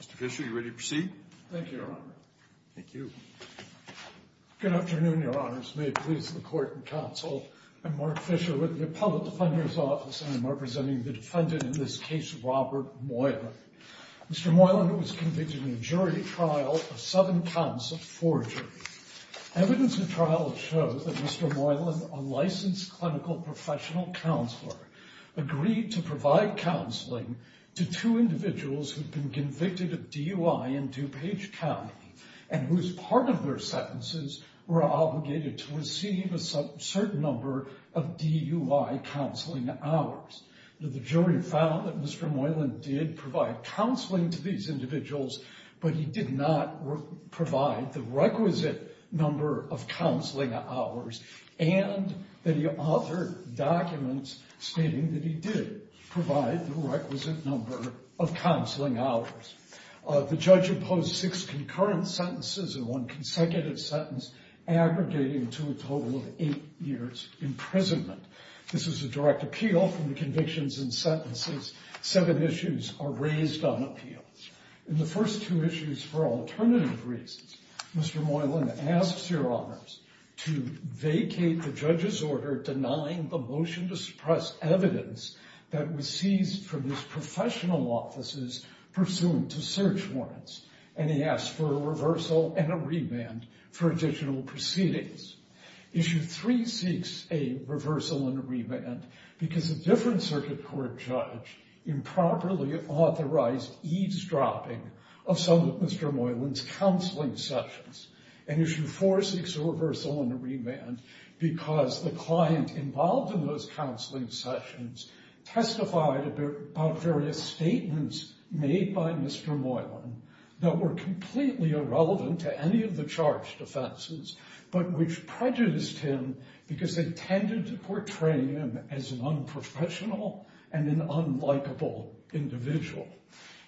Mr. Fisher, are you ready to proceed? Thank you, Your Honor. Good afternoon, Your Honors. May it please the Court and Counsel, I'm Mark Fisher with the Appellate Defender's Office, and I'm representing the defendant in this case, Robert Moylan. Mr. Moylan was convicted in a jury trial of seven counts of forgery. Evidence of trial shows that Mr. Moylan, a licensed clinical professional counselor, agreed to provide counseling to two individuals who'd been convicted of DUI in DuPage County and whose part of their sentences were obligated to receive a certain number of DUI counseling hours. The jury found that Mr. Moylan did provide counseling to these individuals, but he did not provide the requisite number of counseling hours, and that he authored documents stating that he did provide the requisite number of counseling hours. The judge imposed six concurrent sentences and one consecutive sentence, aggregating to a total of eight years imprisonment. This is a direct appeal from the convictions and sentences. Seven issues are raised on appeal. In the first two issues, for alternative reasons, Mr. Moylan asks Your Honors to vacate the judge's order denying the motion to suppress evidence that was seized from his professional offices pursuant to search warrants, and he asks for a reversal and a reband for additional proceedings. Issue three seeks a reversal and a reband because a different circuit court judge improperly authorized eavesdropping of some of Mr. Moylan's counseling sessions. Issue four seeks a reversal and a remand because the client involved in those counseling sessions testified about various statements made by Mr. Moylan that were completely irrelevant to any of the charged offenses, but which prejudiced him because they tended to portray him as an unprofessional and an unlikable individual.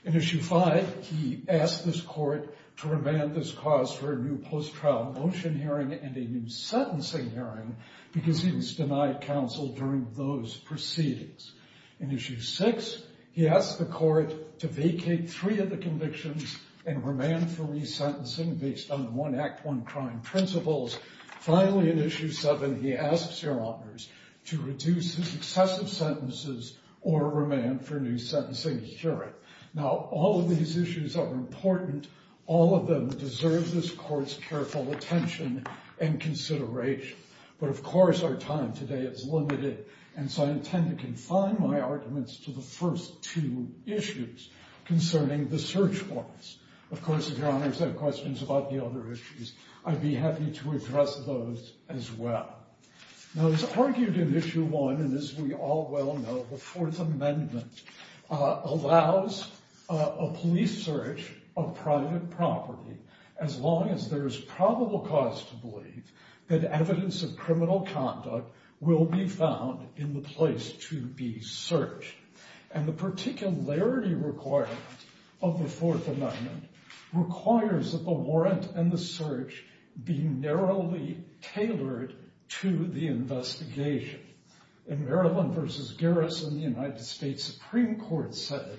In issue five, he asked this court to remand this cause for a new post-trial motion hearing and a new sentencing hearing because he was denied counsel during those proceedings. In issue six, he asked the court to vacate three of the convictions and remand for resentencing based on the one act, one crime principles. Finally, in issue seven, he asks Your Honors to reduce his excessive sentences or remand for a new sentencing hearing. Now, all of these issues are important. All of them deserve this court's careful attention and consideration, but of course our time today is limited, and so I intend to confine my arguments to the first two issues concerning the search warrants. Of course, if Your Honors have questions about the other issues, I'd be happy to address those as well. Now, as argued in issue one, and as we all well know, the Fourth Amendment allows a police search of private property as long as there is probable cause to believe that evidence of criminal conduct will be found in the place to be searched, and the particularity requirement of the Fourth Amendment requires that the warrant and the search be narrowly tailored to the investigation. In Maryland v. Garrison, the United States Supreme Court said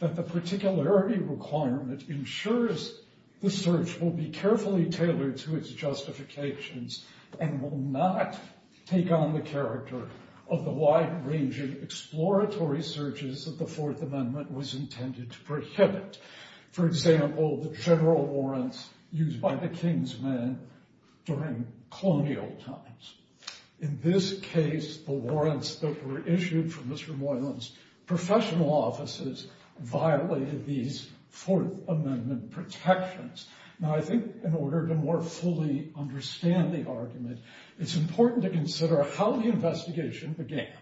that the particularity requirement ensures the search will be carefully tailored to its justifications and will not take on the character of the wide ranging exploratory searches that the Fourth Amendment was intended to prohibit. For example, the general warrants used by the Kingsmen during colonial times. In this case, the warrants that were issued for Mr. Moylan's professional offices violated these Fourth Amendment protections. Now, I think in order to more fully understand the argument, it's important to consider how the investigation began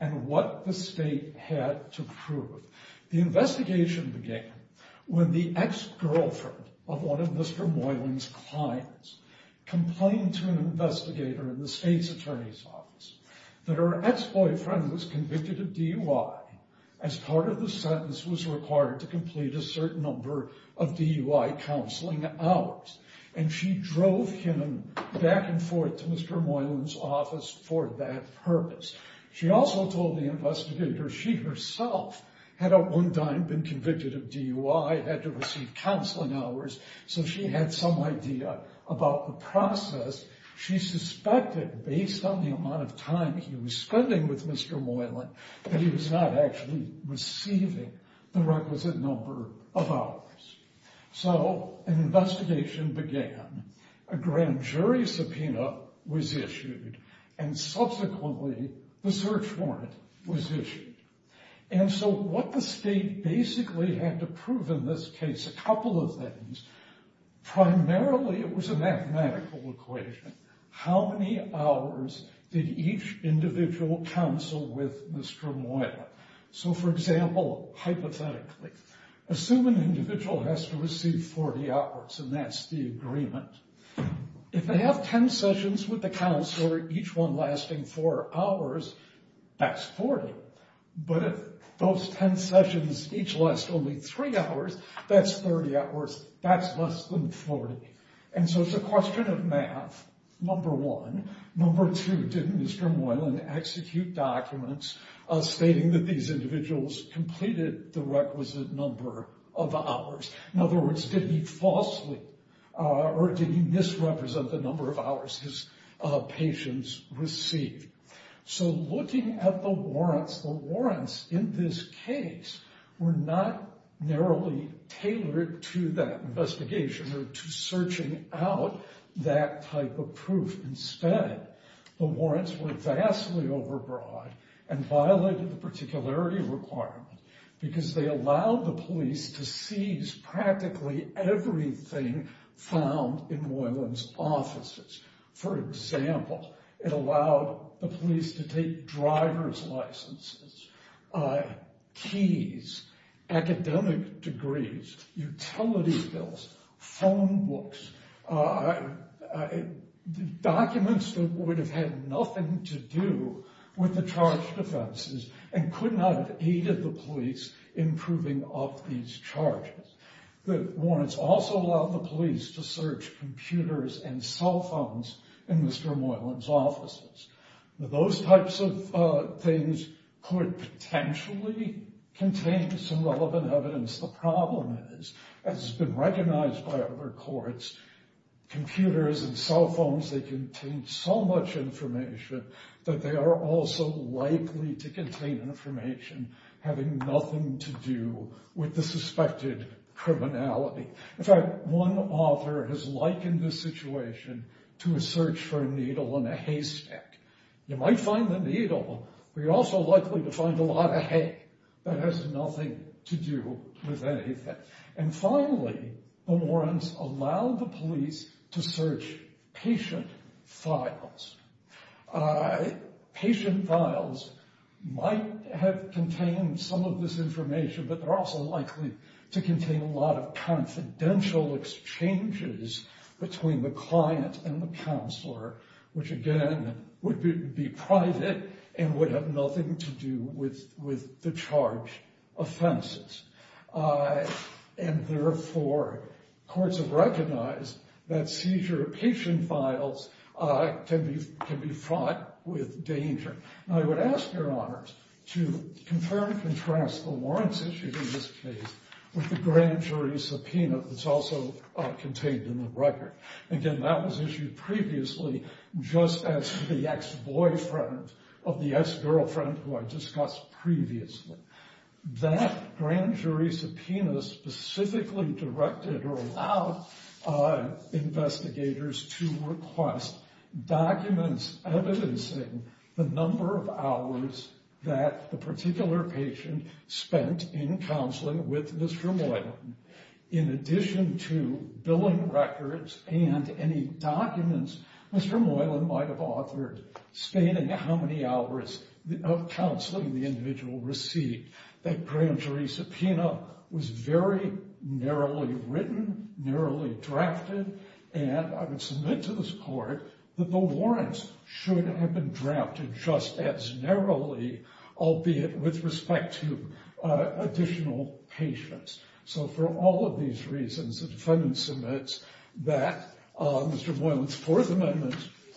and what the state had to prove. The investigation began when the ex-girlfriend of one of Mr. Moylan's clients complained to an investigator in the state's attorney's office that her ex-boyfriend was convicted of DUI as part of the sentence was required to complete a certain number of DUI counseling hours, and she drove him back and forth to Mr. Moylan's office for that purpose. She also told the investigator she herself had at one time been convicted of DUI, had to receive counseling hours, so she had some idea about the process. She suspected based on the amount of time he was spending with Mr. Moylan that he was not actually receiving the requisite number of hours. So, an investigation began. A grand jury subpoena was issued, and subsequently, the search warrant was issued. And so, what the state basically had to prove in this case, a couple of things. Primarily, it was a mathematical equation. How many hours did each individual counsel with Mr. Moylan? So, for example, hypothetically, assume an individual has to receive 40 hours, and that's the agreement. If they have 10 sessions with the counselor, each one lasting four hours, that's 40. But if those 10 sessions each last only three hours, that's 30 hours. That's less than 40. And so, it's a question of math, number one. Number two, did Mr. Moylan execute documents stating that these individuals completed the requisite number of hours? In other words, did he falsely or did he misrepresent the number of hours his patients received? So, looking at the warrants, the warrants in this case were not narrowly tailored to that investigation or to searching out that type of proof. Instead, the warrants were vastly overbroad and violated the particularity requirement because they allowed the police to seize practically everything found in Moylan's offices. For example, it allowed the police to confiscate driver's licenses, keys, academic degrees, utility bills, phone books, documents that would have had nothing to do with the charge defenses and could not have aided the police in proving of these charges. The warrants also allowed the police to search computers and cell phones in Mr. Moylan's offices. Those types of things could potentially contain some relevant evidence. The problem is, as has been recognized by other courts, computers and cell phones, they contain so much information that they are also likely to contain information having nothing to do with the suspected criminality. In fact, one author has likened this situation to a search for a needle in a haystack. You might find the needle, but you're also likely to find a lot of hay that has nothing to do with anything. And finally, the warrants allow the police to search patient files. Patient files might have contained some of this information, but they're also likely to contain a lot of confidential exchanges between the client and the counselor, which again would be private and would have nothing to do with the charge offenses. And therefore, courts have recognized that seizure of patient files can be fraught with danger. I would ask your honors to confirm and contrast the warrants issued in this case with the grand jury subpoena that's also contained in the record. Again, that was issued previously just as the ex-boyfriend of the ex-girlfriend who I discussed previously. That grand jury subpoena specifically directed or allowed investigators to request documents evidencing the number of hours that the particular patient spent in counseling with Mr. Moylan. In addition to billing records and any documents, Mr. Moylan might have authored stating how many hours of counseling the individual received. That grand jury subpoena was very narrowly written, narrowly drafted, and I would submit to this court that the warrants should have been drafted just as narrowly, albeit with respect to additional patients. So for all of these reasons, the defendant submits that Mr. Moylan's Fourth Amendment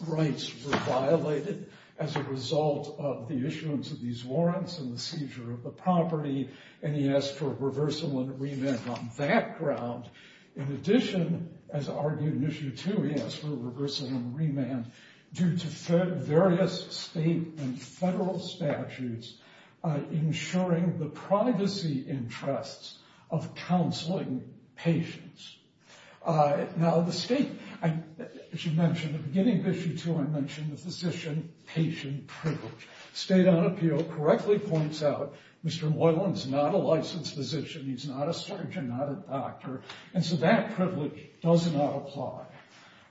rights were violated as a result of the issuance of these warrants and the seizure of the property, and he asked for a reversal and remand on that ground. In addition, as argued in Issue 2, he asked for a reversal and remand due to various state and federal statutes ensuring the privacy interests of counseling patients. Now the state, as you mentioned at the beginning of Issue 2, I mentioned the physician-patient privilege. State on Appeal correctly points out Mr. Moylan's not a licensed physician, he's not a surgeon, not a doctor, and so that privilege does not apply.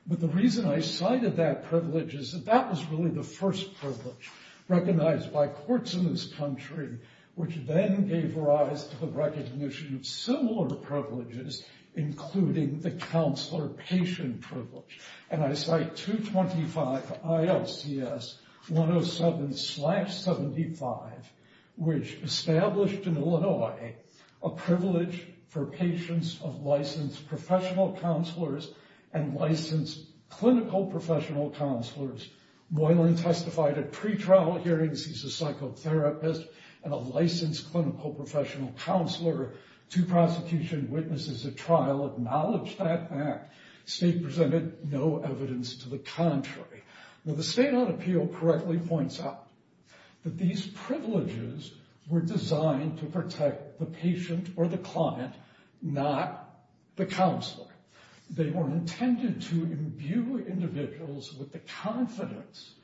But the reason I cited that privilege is that that was really the first privilege recognized by courts in this country, which then gave rise to the recognition of similar privileges, including the counselor-patient privilege. And I cite 225 ILCS 107-75, which established in Illinois a privilege for patients of licensed professional counselors and licensed clinical professional counselors. Moylan testified at pretrial hearings he's a psychotherapist and a licensed clinical professional counselor, two prosecution witnesses at trial acknowledged that fact. State presented no evidence to the contrary. Now the state on appeal correctly points out that these privileges were designed to protect the patient or the client, not the counselor. They were intended to imbue individuals with the confidence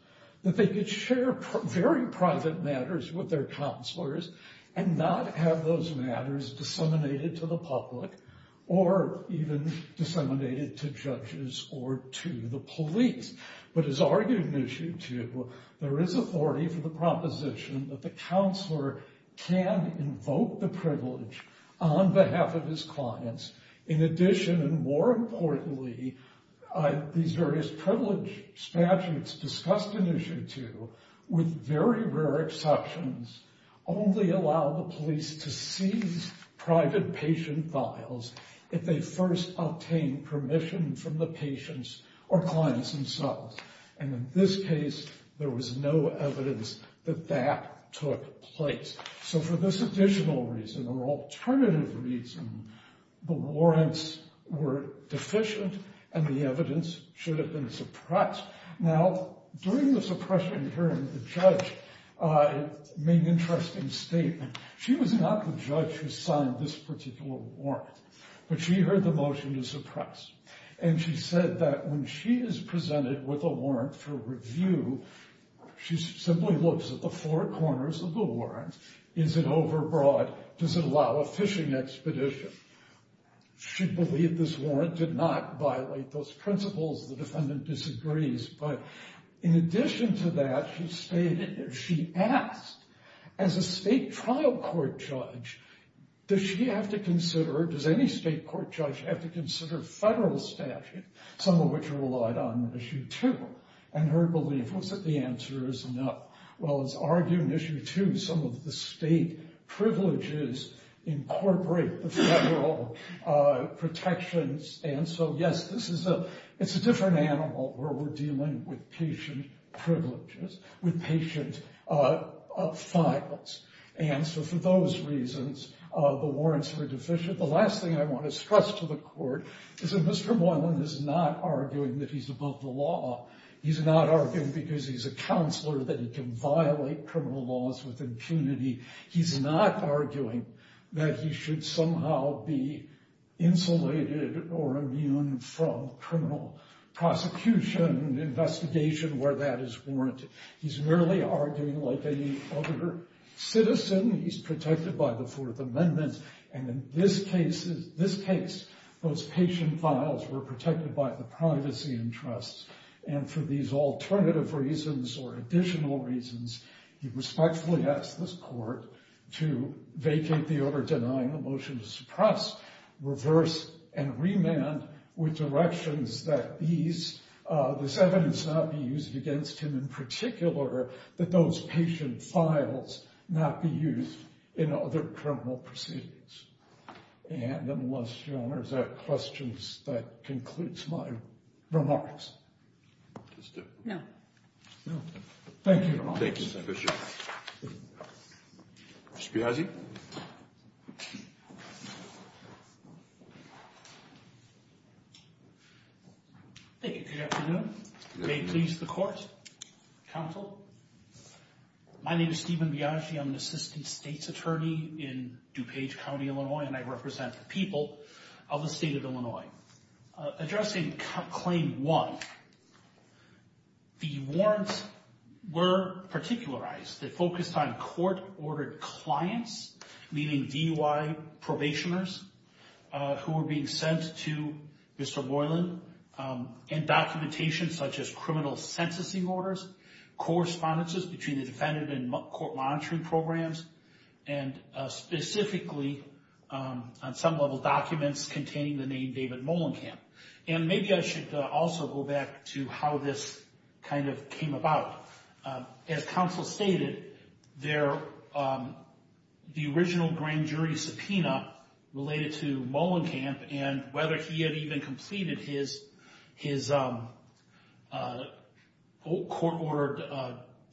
that they could share very private matters with their counselors and not have those matters disseminated to the public or even disseminated to judges or to the police. But as argued in Issue 2, there is authority for the proposition that the counselor can invoke the privilege on behalf of his clients. In addition, and more importantly, these various privilege statutes discussed in Issue 2, with very rare exceptions, only allow the police to seize private patient files if they first obtain permission from the patients or clients themselves. And in this case, there was no evidence that that took place. So for this additional reason, or alternative reason, the warrants were deficient and the evidence should have been suppressed. Now during the suppression hearing, the judge made an interesting statement. She was not the judge who signed this particular warrant, but she heard the motion to suppress. And she said that when she is presented with a warrant for review, she simply looks at the four corners of the warrant. Is it overbroad? Does it allow a fishing expedition? She believed this warrant did not violate those principles. The defendant disagrees. But in addition to that, she asked, as a state trial court judge, does she have to consider, does any state court judge have to consider federal statute, some of which relied on Issue 2? And her belief was that the answer is no. Well, as argued in Issue 2, some of the state privileges incorporate the federal protections. And so yes, this is a, it's a different animal where we're dealing with patient privileges, with patient files. And so for those reasons, the warrants were deficient. The last thing I want to stress to the court is that Mr. Boylan is not arguing that he's above the law. He's not arguing because he's a counselor that he can violate criminal laws with punity. He's not arguing that he should somehow be insulated or immune from criminal prosecution, investigation where that is warranted. He's merely arguing like any other citizen. He's protected by the Fourth Amendment. And in this case, those patient files were protected by the privacy interests. And for these alternative reasons or additional reasons, he respectfully asked this court to vacate the order denying the motion to suppress, reverse, and remand with directions that these, this evidence not be used against him in particular, that those patient files not be used in other criminal proceedings. And unless you have questions, that concludes my remarks. No. Thank you. Thank you. Good afternoon. May it please the court, counsel. My name is Stephen Biagi. I'm Assistant State's Attorney in DuPage County, Illinois, and I represent the people of the state of Illinois. Addressing claim one, the warrants were particularized. They focused on court-ordered clients, meaning DUI probationers who were being sent to Mr. Boylan, and documentation such as sentencing orders, correspondences between the defendant and court monitoring programs, and specifically, on some level, documents containing the name David Molenkamp. And maybe I should also go back to how this kind of came about. As counsel stated, the original grand jury subpoena related to Molenkamp and whether he had even completed his court-ordered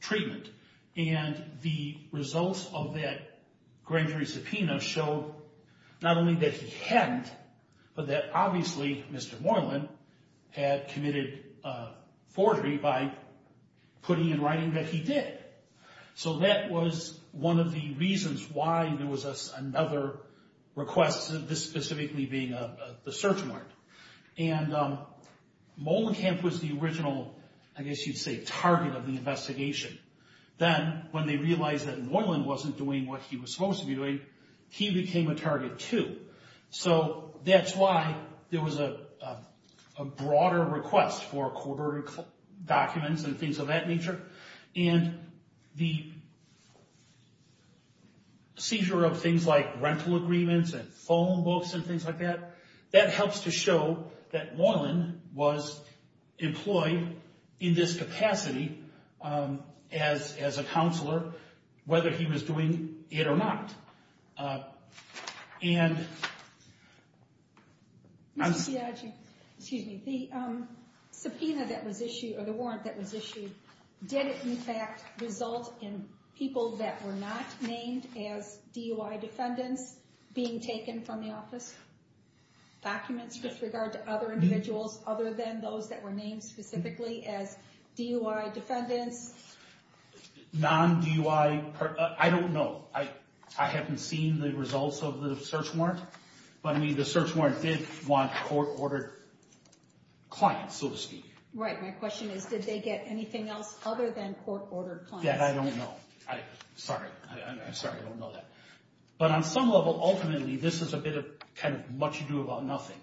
treatment. And the results of that grand jury subpoena showed not only that he hadn't, but that obviously Mr. Molenkamp had committed forgery by putting in writing that he did. So that was one of the reasons why there was another request, this being the search warrant. And Molenkamp was the original, I guess you'd say, target of the investigation. Then when they realized that Molenkamp wasn't doing what he was supposed to be doing, he became a target too. So that's why there was a broader request for court-ordered documents and things of that nature. And the seizure of things like rental agreements and phone books and things like that, that helps to show that Molen was employed in this capacity as a counselor, whether he was doing it or not. And... Ms. Chiagi, excuse me. The subpoena that was issued, or the warrant that was issued, did it, in fact, result in people that were not named as DUI defendants being taken from the office? Documents with regard to other individuals other than those that were named specifically as DUI defendants? Non-DUI... I don't know. I haven't seen the results of the search warrant. But I mean, the search warrant did want court-ordered clients, so to speak. Right. My question is, did they get anything else other than court-ordered clients? That I don't know. Sorry. I'm sorry. I don't know that. But on some level, ultimately, this is a bit of kind of what you do about nothing.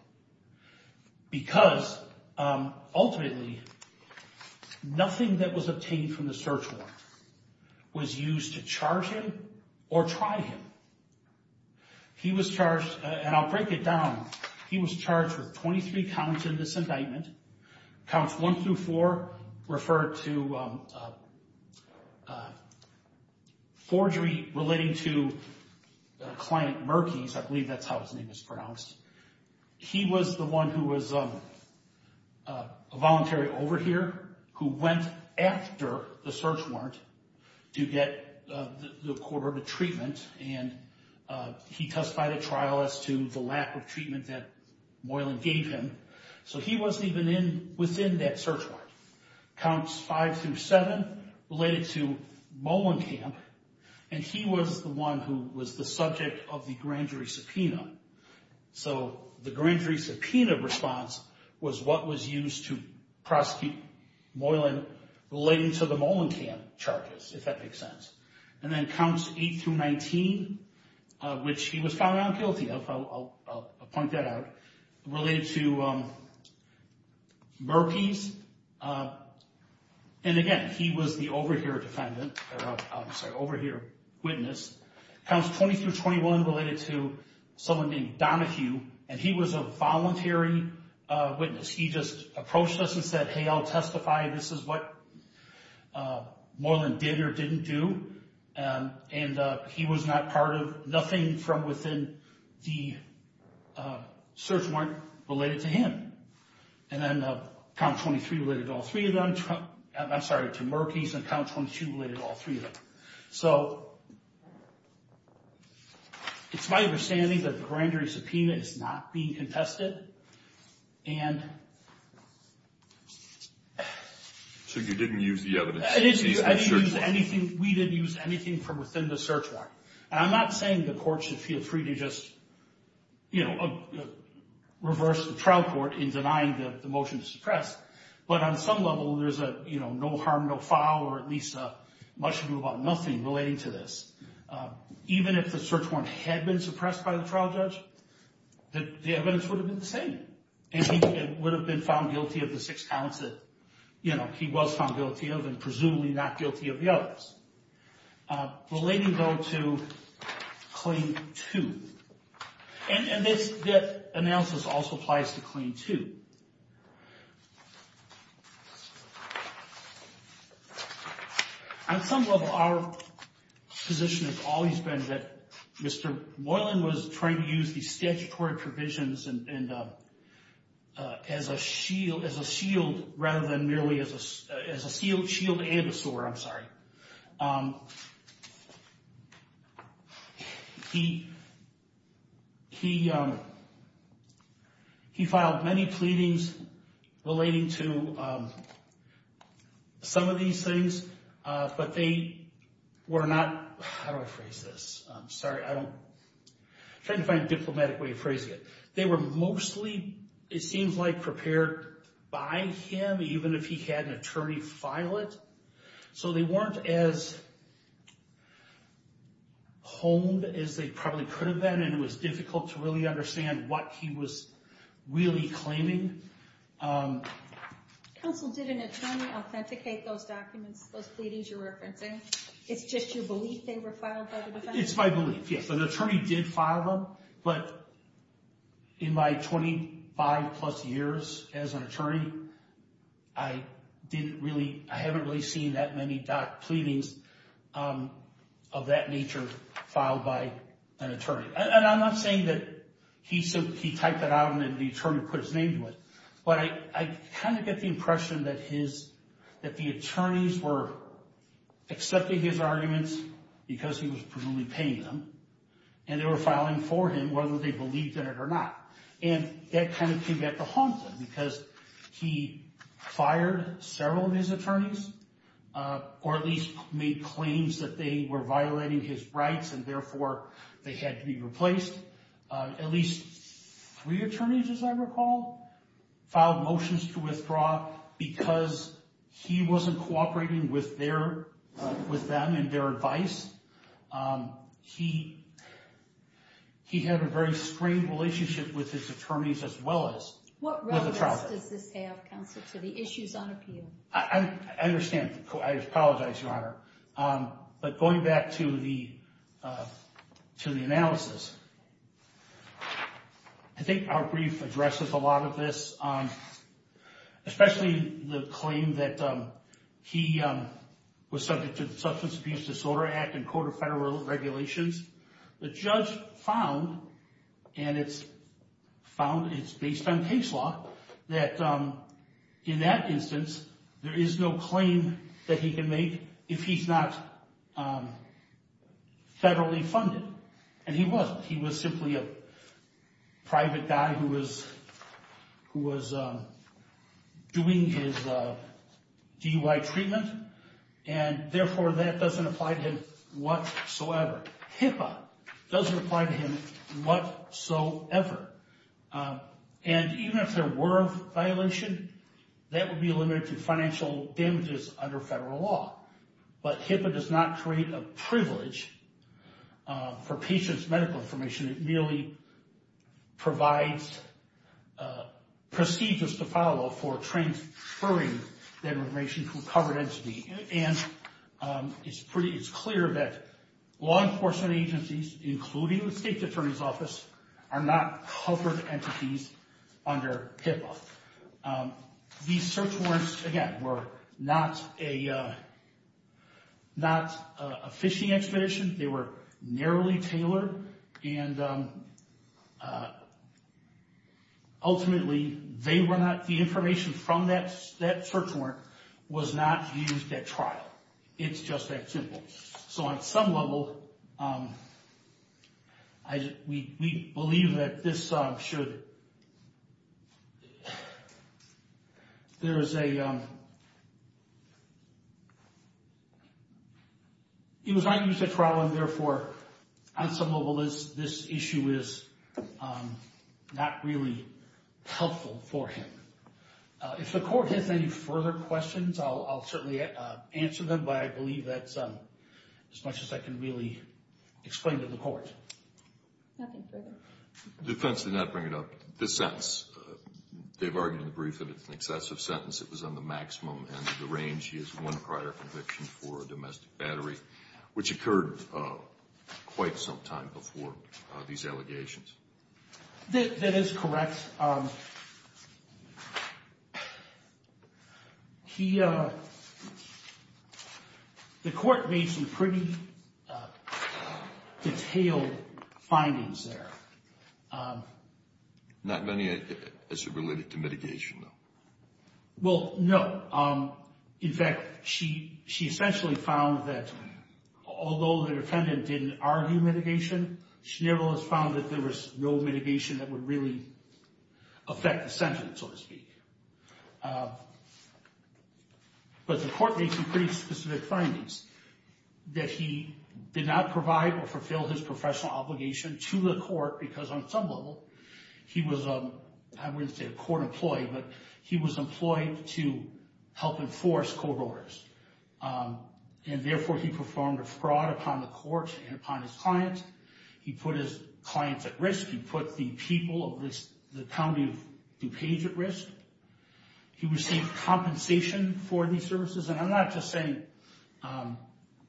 Because ultimately, nothing that was obtained from the search warrant was used to charge him or try him. He was charged, and I'll break it down, he was charged with 23 counts in this indictment, counts one through four referred to forgery relating to client Murkey's. I believe that's how his name is pronounced. He was the one who was a voluntary over here, who went after the search warrant to get the court-ordered treatment, and he testified at trial as to the lack of within that search warrant. Counts five through seven related to Mollenkamp, and he was the one who was the subject of the grand jury subpoena. So the grand jury subpoena response was what was used to prosecute Moylan relating to the Mollenkamp charges, if that makes sense. And then counts eight through 19, which he was found not guilty of, I'll point that out, related to Murkey's. And again, he was the over here defendant, or I'm sorry, over here witness. Counts 20 through 21 related to someone named Donahue, and he was a voluntary witness. He just approached us and said, hey, I'll testify, this is what Moylan did or didn't do. And he was not part of nothing from within the search warrant related to him. And then count 23 related to all three of them. I'm sorry, to Murkey's, and count 22 related to all three of them. So it's my understanding that the grand jury subpoena is not being contested. And. So you didn't use the evidence. We didn't use anything from within the search warrant. And I'm not saying the court should feel free to just reverse the trial court in denying the motion to suppress. But on some level, there's a no harm, no foul, or at least a much ado about nothing relating to this. Even if the search warrant had been suppressed by the trial judge, that the evidence would have been the same. And he would have been found guilty of the six counts that, you know, he was found guilty of and presumably not guilty of the others. Relating, though, to claim two. And this, that analysis also applies to claim two. On some level, our position has always been that Mr. Moylan was trying to use the statutory provisions and as a shield, as a shield, rather than merely as a as a shield, shield and a sword. I'm sorry. He, he, he filed many plaintiffs, many plaintiffs, many plaintiffs, many plaintiffs, pleadings relating to some of these things. But they were not, how do I phrase this? I'm sorry, I don't, trying to find a diplomatic way of phrasing it. They were mostly, it seems like, prepared by him, even if he had an attorney file it. So they weren't as honed as they probably could have been. And it was difficult to really understand what he was really claiming. Counsel, did an attorney authenticate those documents, those pleadings you're referencing? It's just your belief they were filed by the defendant? It's my belief, yes. An attorney did file them. But in my 25 plus years as an attorney, I didn't really, I haven't really seen that many doc, pleadings of that nature filed by an attorney. And I'm not saying that he said, he typed it out and then the attorney put his name to it. But I, I kind of get the impression that his, that the attorneys were accepting his arguments because he was presumably paying them. And they were filing for him, whether they believed in it or not. And that kind of came back to haunt them because he fired several of his attorneys, or at least made claims that they were violating his rights and therefore they had to be replaced. At least three attorneys, as I recall, filed motions to withdraw because he wasn't cooperating with their, with them and their advice. He, he had a very strained relationship with his attorneys as well as What relevance does this have, Counsel, to the issues on appeal? I understand. I apologize, Your Honor. But going back to the, to the analysis, I think our brief addresses a lot of this, especially the claim that he was subject to the Substance Abuse Disorder Act and Court of Federal Regulations. The judge found, and it's found, it's based on case law, that in that instance there is no claim that he can make if he's not federally funded. And he wasn't. He was simply a private guy who was, who was doing his DUI treatment and therefore that doesn't apply to him whatsoever. HIPAA doesn't apply to him whatsoever. And even if there were a violation, that would be limited to financial damages under federal law. But HIPAA does not create a privilege for patients' medical information. It merely provides procedures to follow for transferring that information to a covered entity. And it's pretty, it's clear that law enforcement agencies, including the State Attorney's Office, are not covered entities under HIPAA. These search warrants, again, were not a, not a phishing expedition. They were narrowly tailored and ultimately they were not, the information from that, that search warrant was not used at trial. It's just that simple. So on some level, we believe that this should, there is a, it was not used at trial and therefore on some level this issue is not really helpful for him. If the court has any further questions, I'll certainly answer them. But I believe that's as much as I can really explain to the court. Nothing further. Defense did not bring it up. This sentence, they've argued in the brief that it's an excessive sentence. It was on the maximum end of the range. He has one prior conviction for a domestic battery, which occurred quite some time before these allegations. That is correct. He, the court made some pretty detailed findings there. Not many as it related to mitigation, though. Well, no. In fact, she essentially found that although the defendant didn't argue mitigation, Schnivel has found that there was no mitigation that would really affect the sentence, so to speak. But the court made some pretty specific findings that he did not provide or fulfill his professional obligation to the court because on some level he was, I wouldn't say a court employee, but he was employed to help enforce court orders. And therefore he performed a fraud upon the court and upon his clients. He put his clients at risk. He put the people of the county of DuPage at risk. He received compensation for these services. And I'm not just saying...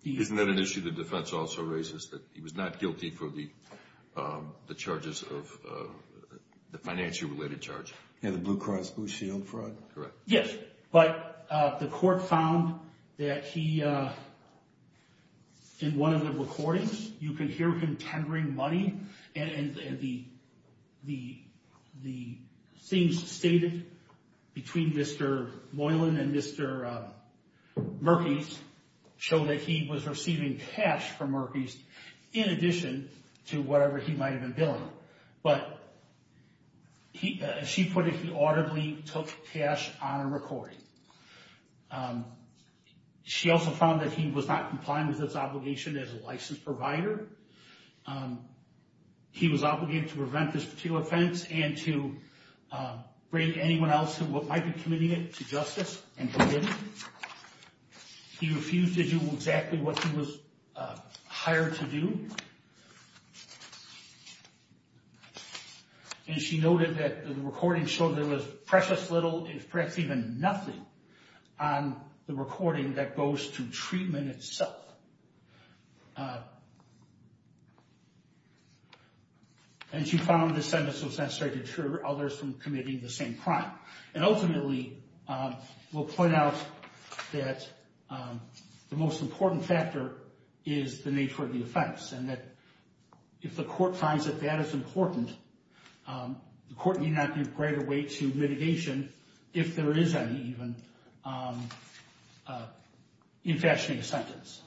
Isn't that an issue the defense also raises, that he was not guilty for the the charges of the financial related charge? Yeah, the Blue Cross Blue Shield fraud? Correct. Yes, but the court found that he, in one of the recordings, you can hear him tendering money. And the things stated between Mr. Moylan and Mr. Murkies show that he was receiving cash from in addition to whatever he might have been billing. But as she put it, he audibly took cash on a recording. She also found that he was not complying with his obligation as a licensed provider. He was obligated to prevent this particular offense and to bring anyone else who might be committing it to justice and forgive him. He refused to do exactly what he was hired to do. And she noted that the recording showed there was precious little, perhaps even nothing, on the recording that goes to treatment itself. And she found this sentence was necessary to deter others from committing the same crime. And ultimately, we'll point out that the most important factor is the nature of the offense, and that if the court finds that that is important, the court need not give greater weight to mitigation, if there is any even, in fashioning a sentence.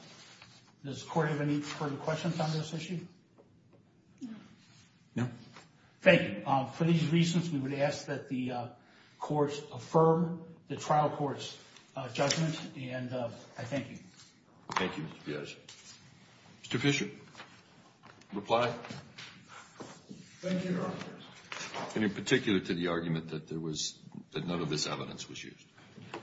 Does the court have any further questions on this issue? No. Thank you. For these reasons, we would ask that the courts affirm the trial court's judgment, and I thank you. Thank you, Mr. Piazza. Mr. Fisher, reply. Thank you, Your Honor. And in particular to the argument that there was, that none of this evidence was used.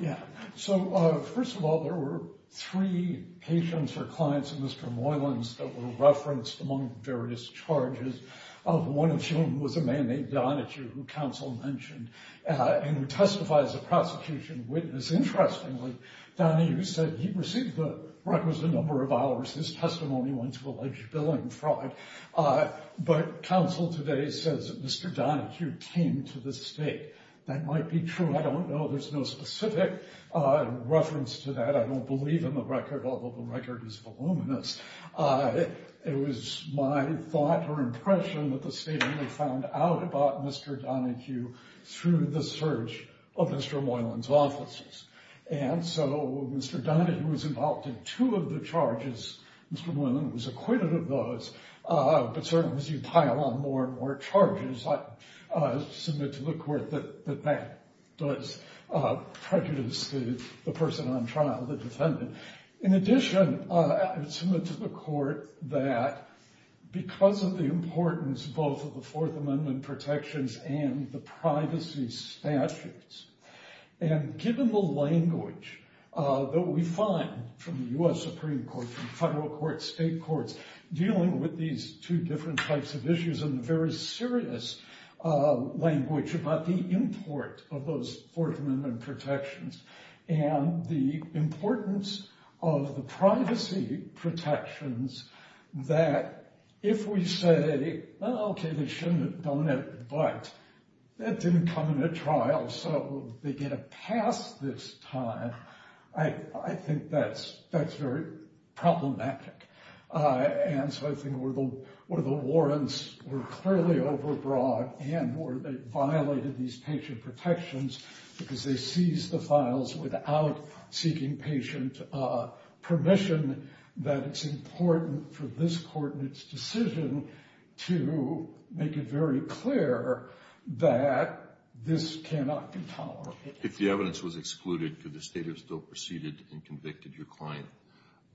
Yeah. So first of all, there were three patients or clients of Mr. Moylan's that were referenced among various charges, of one of whom was a man named Donahue, who counsel mentioned, and who testifies as a prosecution witness. Interestingly, Donahue said he received the records a number of hours. His testimony went to alleged billing fraud. But counsel today says that Mr. Donahue came to the state. That might be true. I don't know. There's no specific reference to that. I don't believe in the record, although the record is voluminous. It was my thought or impression that the state only found out about Mr. Donahue through the search of Mr. Moylan's offices. And so Mr. Donahue was involved in two of the charges. Mr. Moylan was acquitted of those. But certainly as you pile on more and more charges, I submit to the court that that does prejudice the person on trial, the defendant. In addition, I submit to the court that because of the importance both of the Fourth Amendment protections and the privacy statutes, and given the language that we find from the U.S. Supreme Court, from federal courts, state courts, dealing with these two different types of issues and the very serious language about the import of those Fourth Amendment protections and the importance of the privacy protections, that if we say, okay, they shouldn't have done it, but that didn't come in a trial, so they get a pass this time, I think that's very problematic. And so I think where the warrants were clearly overbroad and where they violated these patient protections because they seized the files without seeking patient permission, that it's important for this court and its decision to make it very clear that this cannot be tolerated. If the evidence was excluded, could the state have still proceeded and convicted your client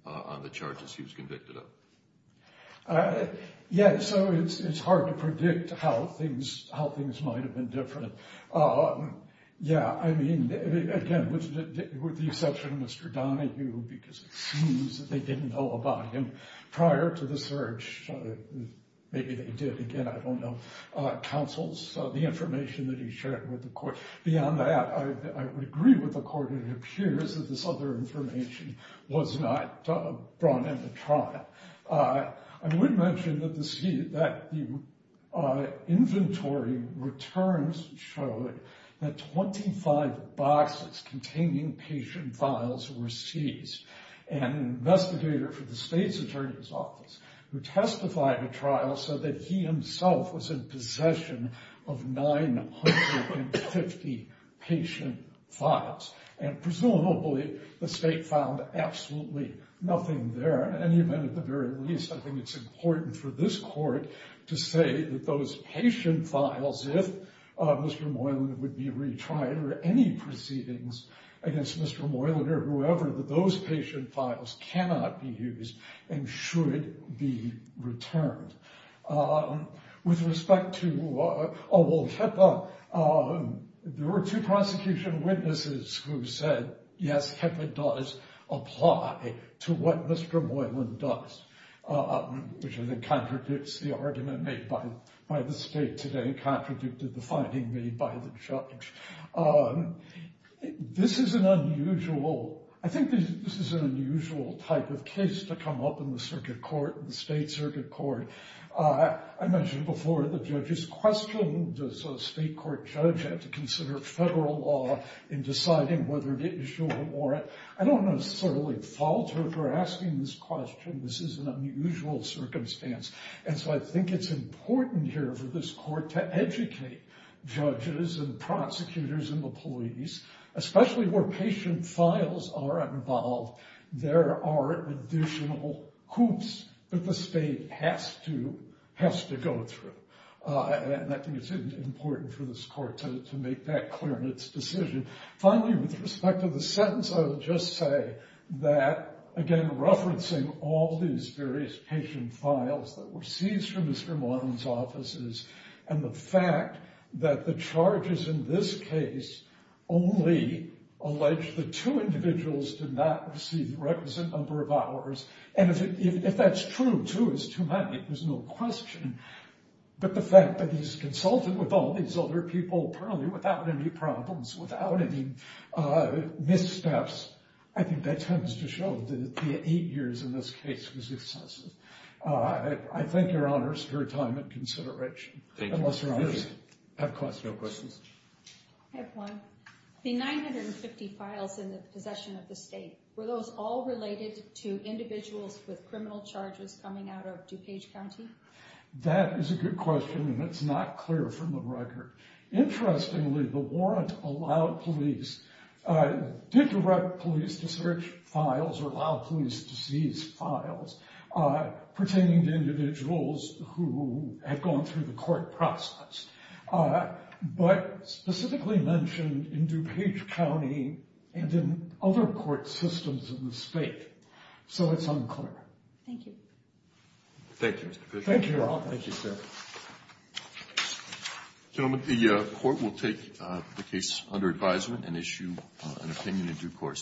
on the charges he was convicted of? Yeah, so it's hard to predict how things might have been different. Yeah, I mean, again, with the exception of Mr. Donahue, because it seems that they didn't know prior to the search, maybe they did, again, I don't know, counsels, the information that he shared with the court. Beyond that, I would agree with the court, it appears that this other information was not brought into trial. I would mention that the inventory returns show that 25 boxes containing patient files were seized. An investigator for the state's attorney's office who testified at trial said that he himself was in possession of 950 patient files. And presumably, the state found absolutely nothing there. In any event, at the very least, I think it's important for this court to say that those patient files, if Mr. Moylan would be retried or any proceedings against Mr. Moylan or whoever, that those patient files cannot be used and should be returned. With respect to Awol Kepa, there were two prosecution witnesses who said, yes, Kepa does apply to what Mr. Moylan does, which I think contradicts the argument made by the state today, contradicted the finding made by the judge. This is an unusual, I think this is an unusual type of case to come up in the circuit court, in the state circuit court. I mentioned before, the judges questioned, does a state court judge have to consider federal law in deciding whether to issue a warrant? I don't necessarily fault her for asking this question. This is an unusual circumstance. And so I think it's important here for this court to educate judges and prosecutors and the police, especially where patient files are involved. There are additional hoops that the state has to go through. And I think it's important for this court to make that clear in its decision. Finally, with respect to the sentence, I will just say that, again, referencing all these various patient files that were seized from Mr. Moylan's offices and the fact that the charges in this case only allege the two individuals did not receive the requisite number of hours. And if that's true, two is too many. There's no question. But the fact that he's consulted with all these other people currently without any problems, without any missteps, I think that tends to show that the eight years in this case was excessive. I thank your honors for your time and consideration. Thank you. Unless your honors have questions. No questions. I have one. The 950 files in the possession of the state, were those all related to individuals with criminal charges coming out of DuPage County? That is a good question and it's not clear from the record. Interestingly, the warrant allowed police, did direct police to search files or allow police to seize files pertaining to individuals who had gone through the court process. But specifically mentioned in DuPage County and in other court systems in the state. So it's unclear. Thank you. Thank you, Mr. Fisher. Thank you, Your Honor. Thank you, sir. Gentlemen, the court will take the case under advisement and issue an opinion in due course.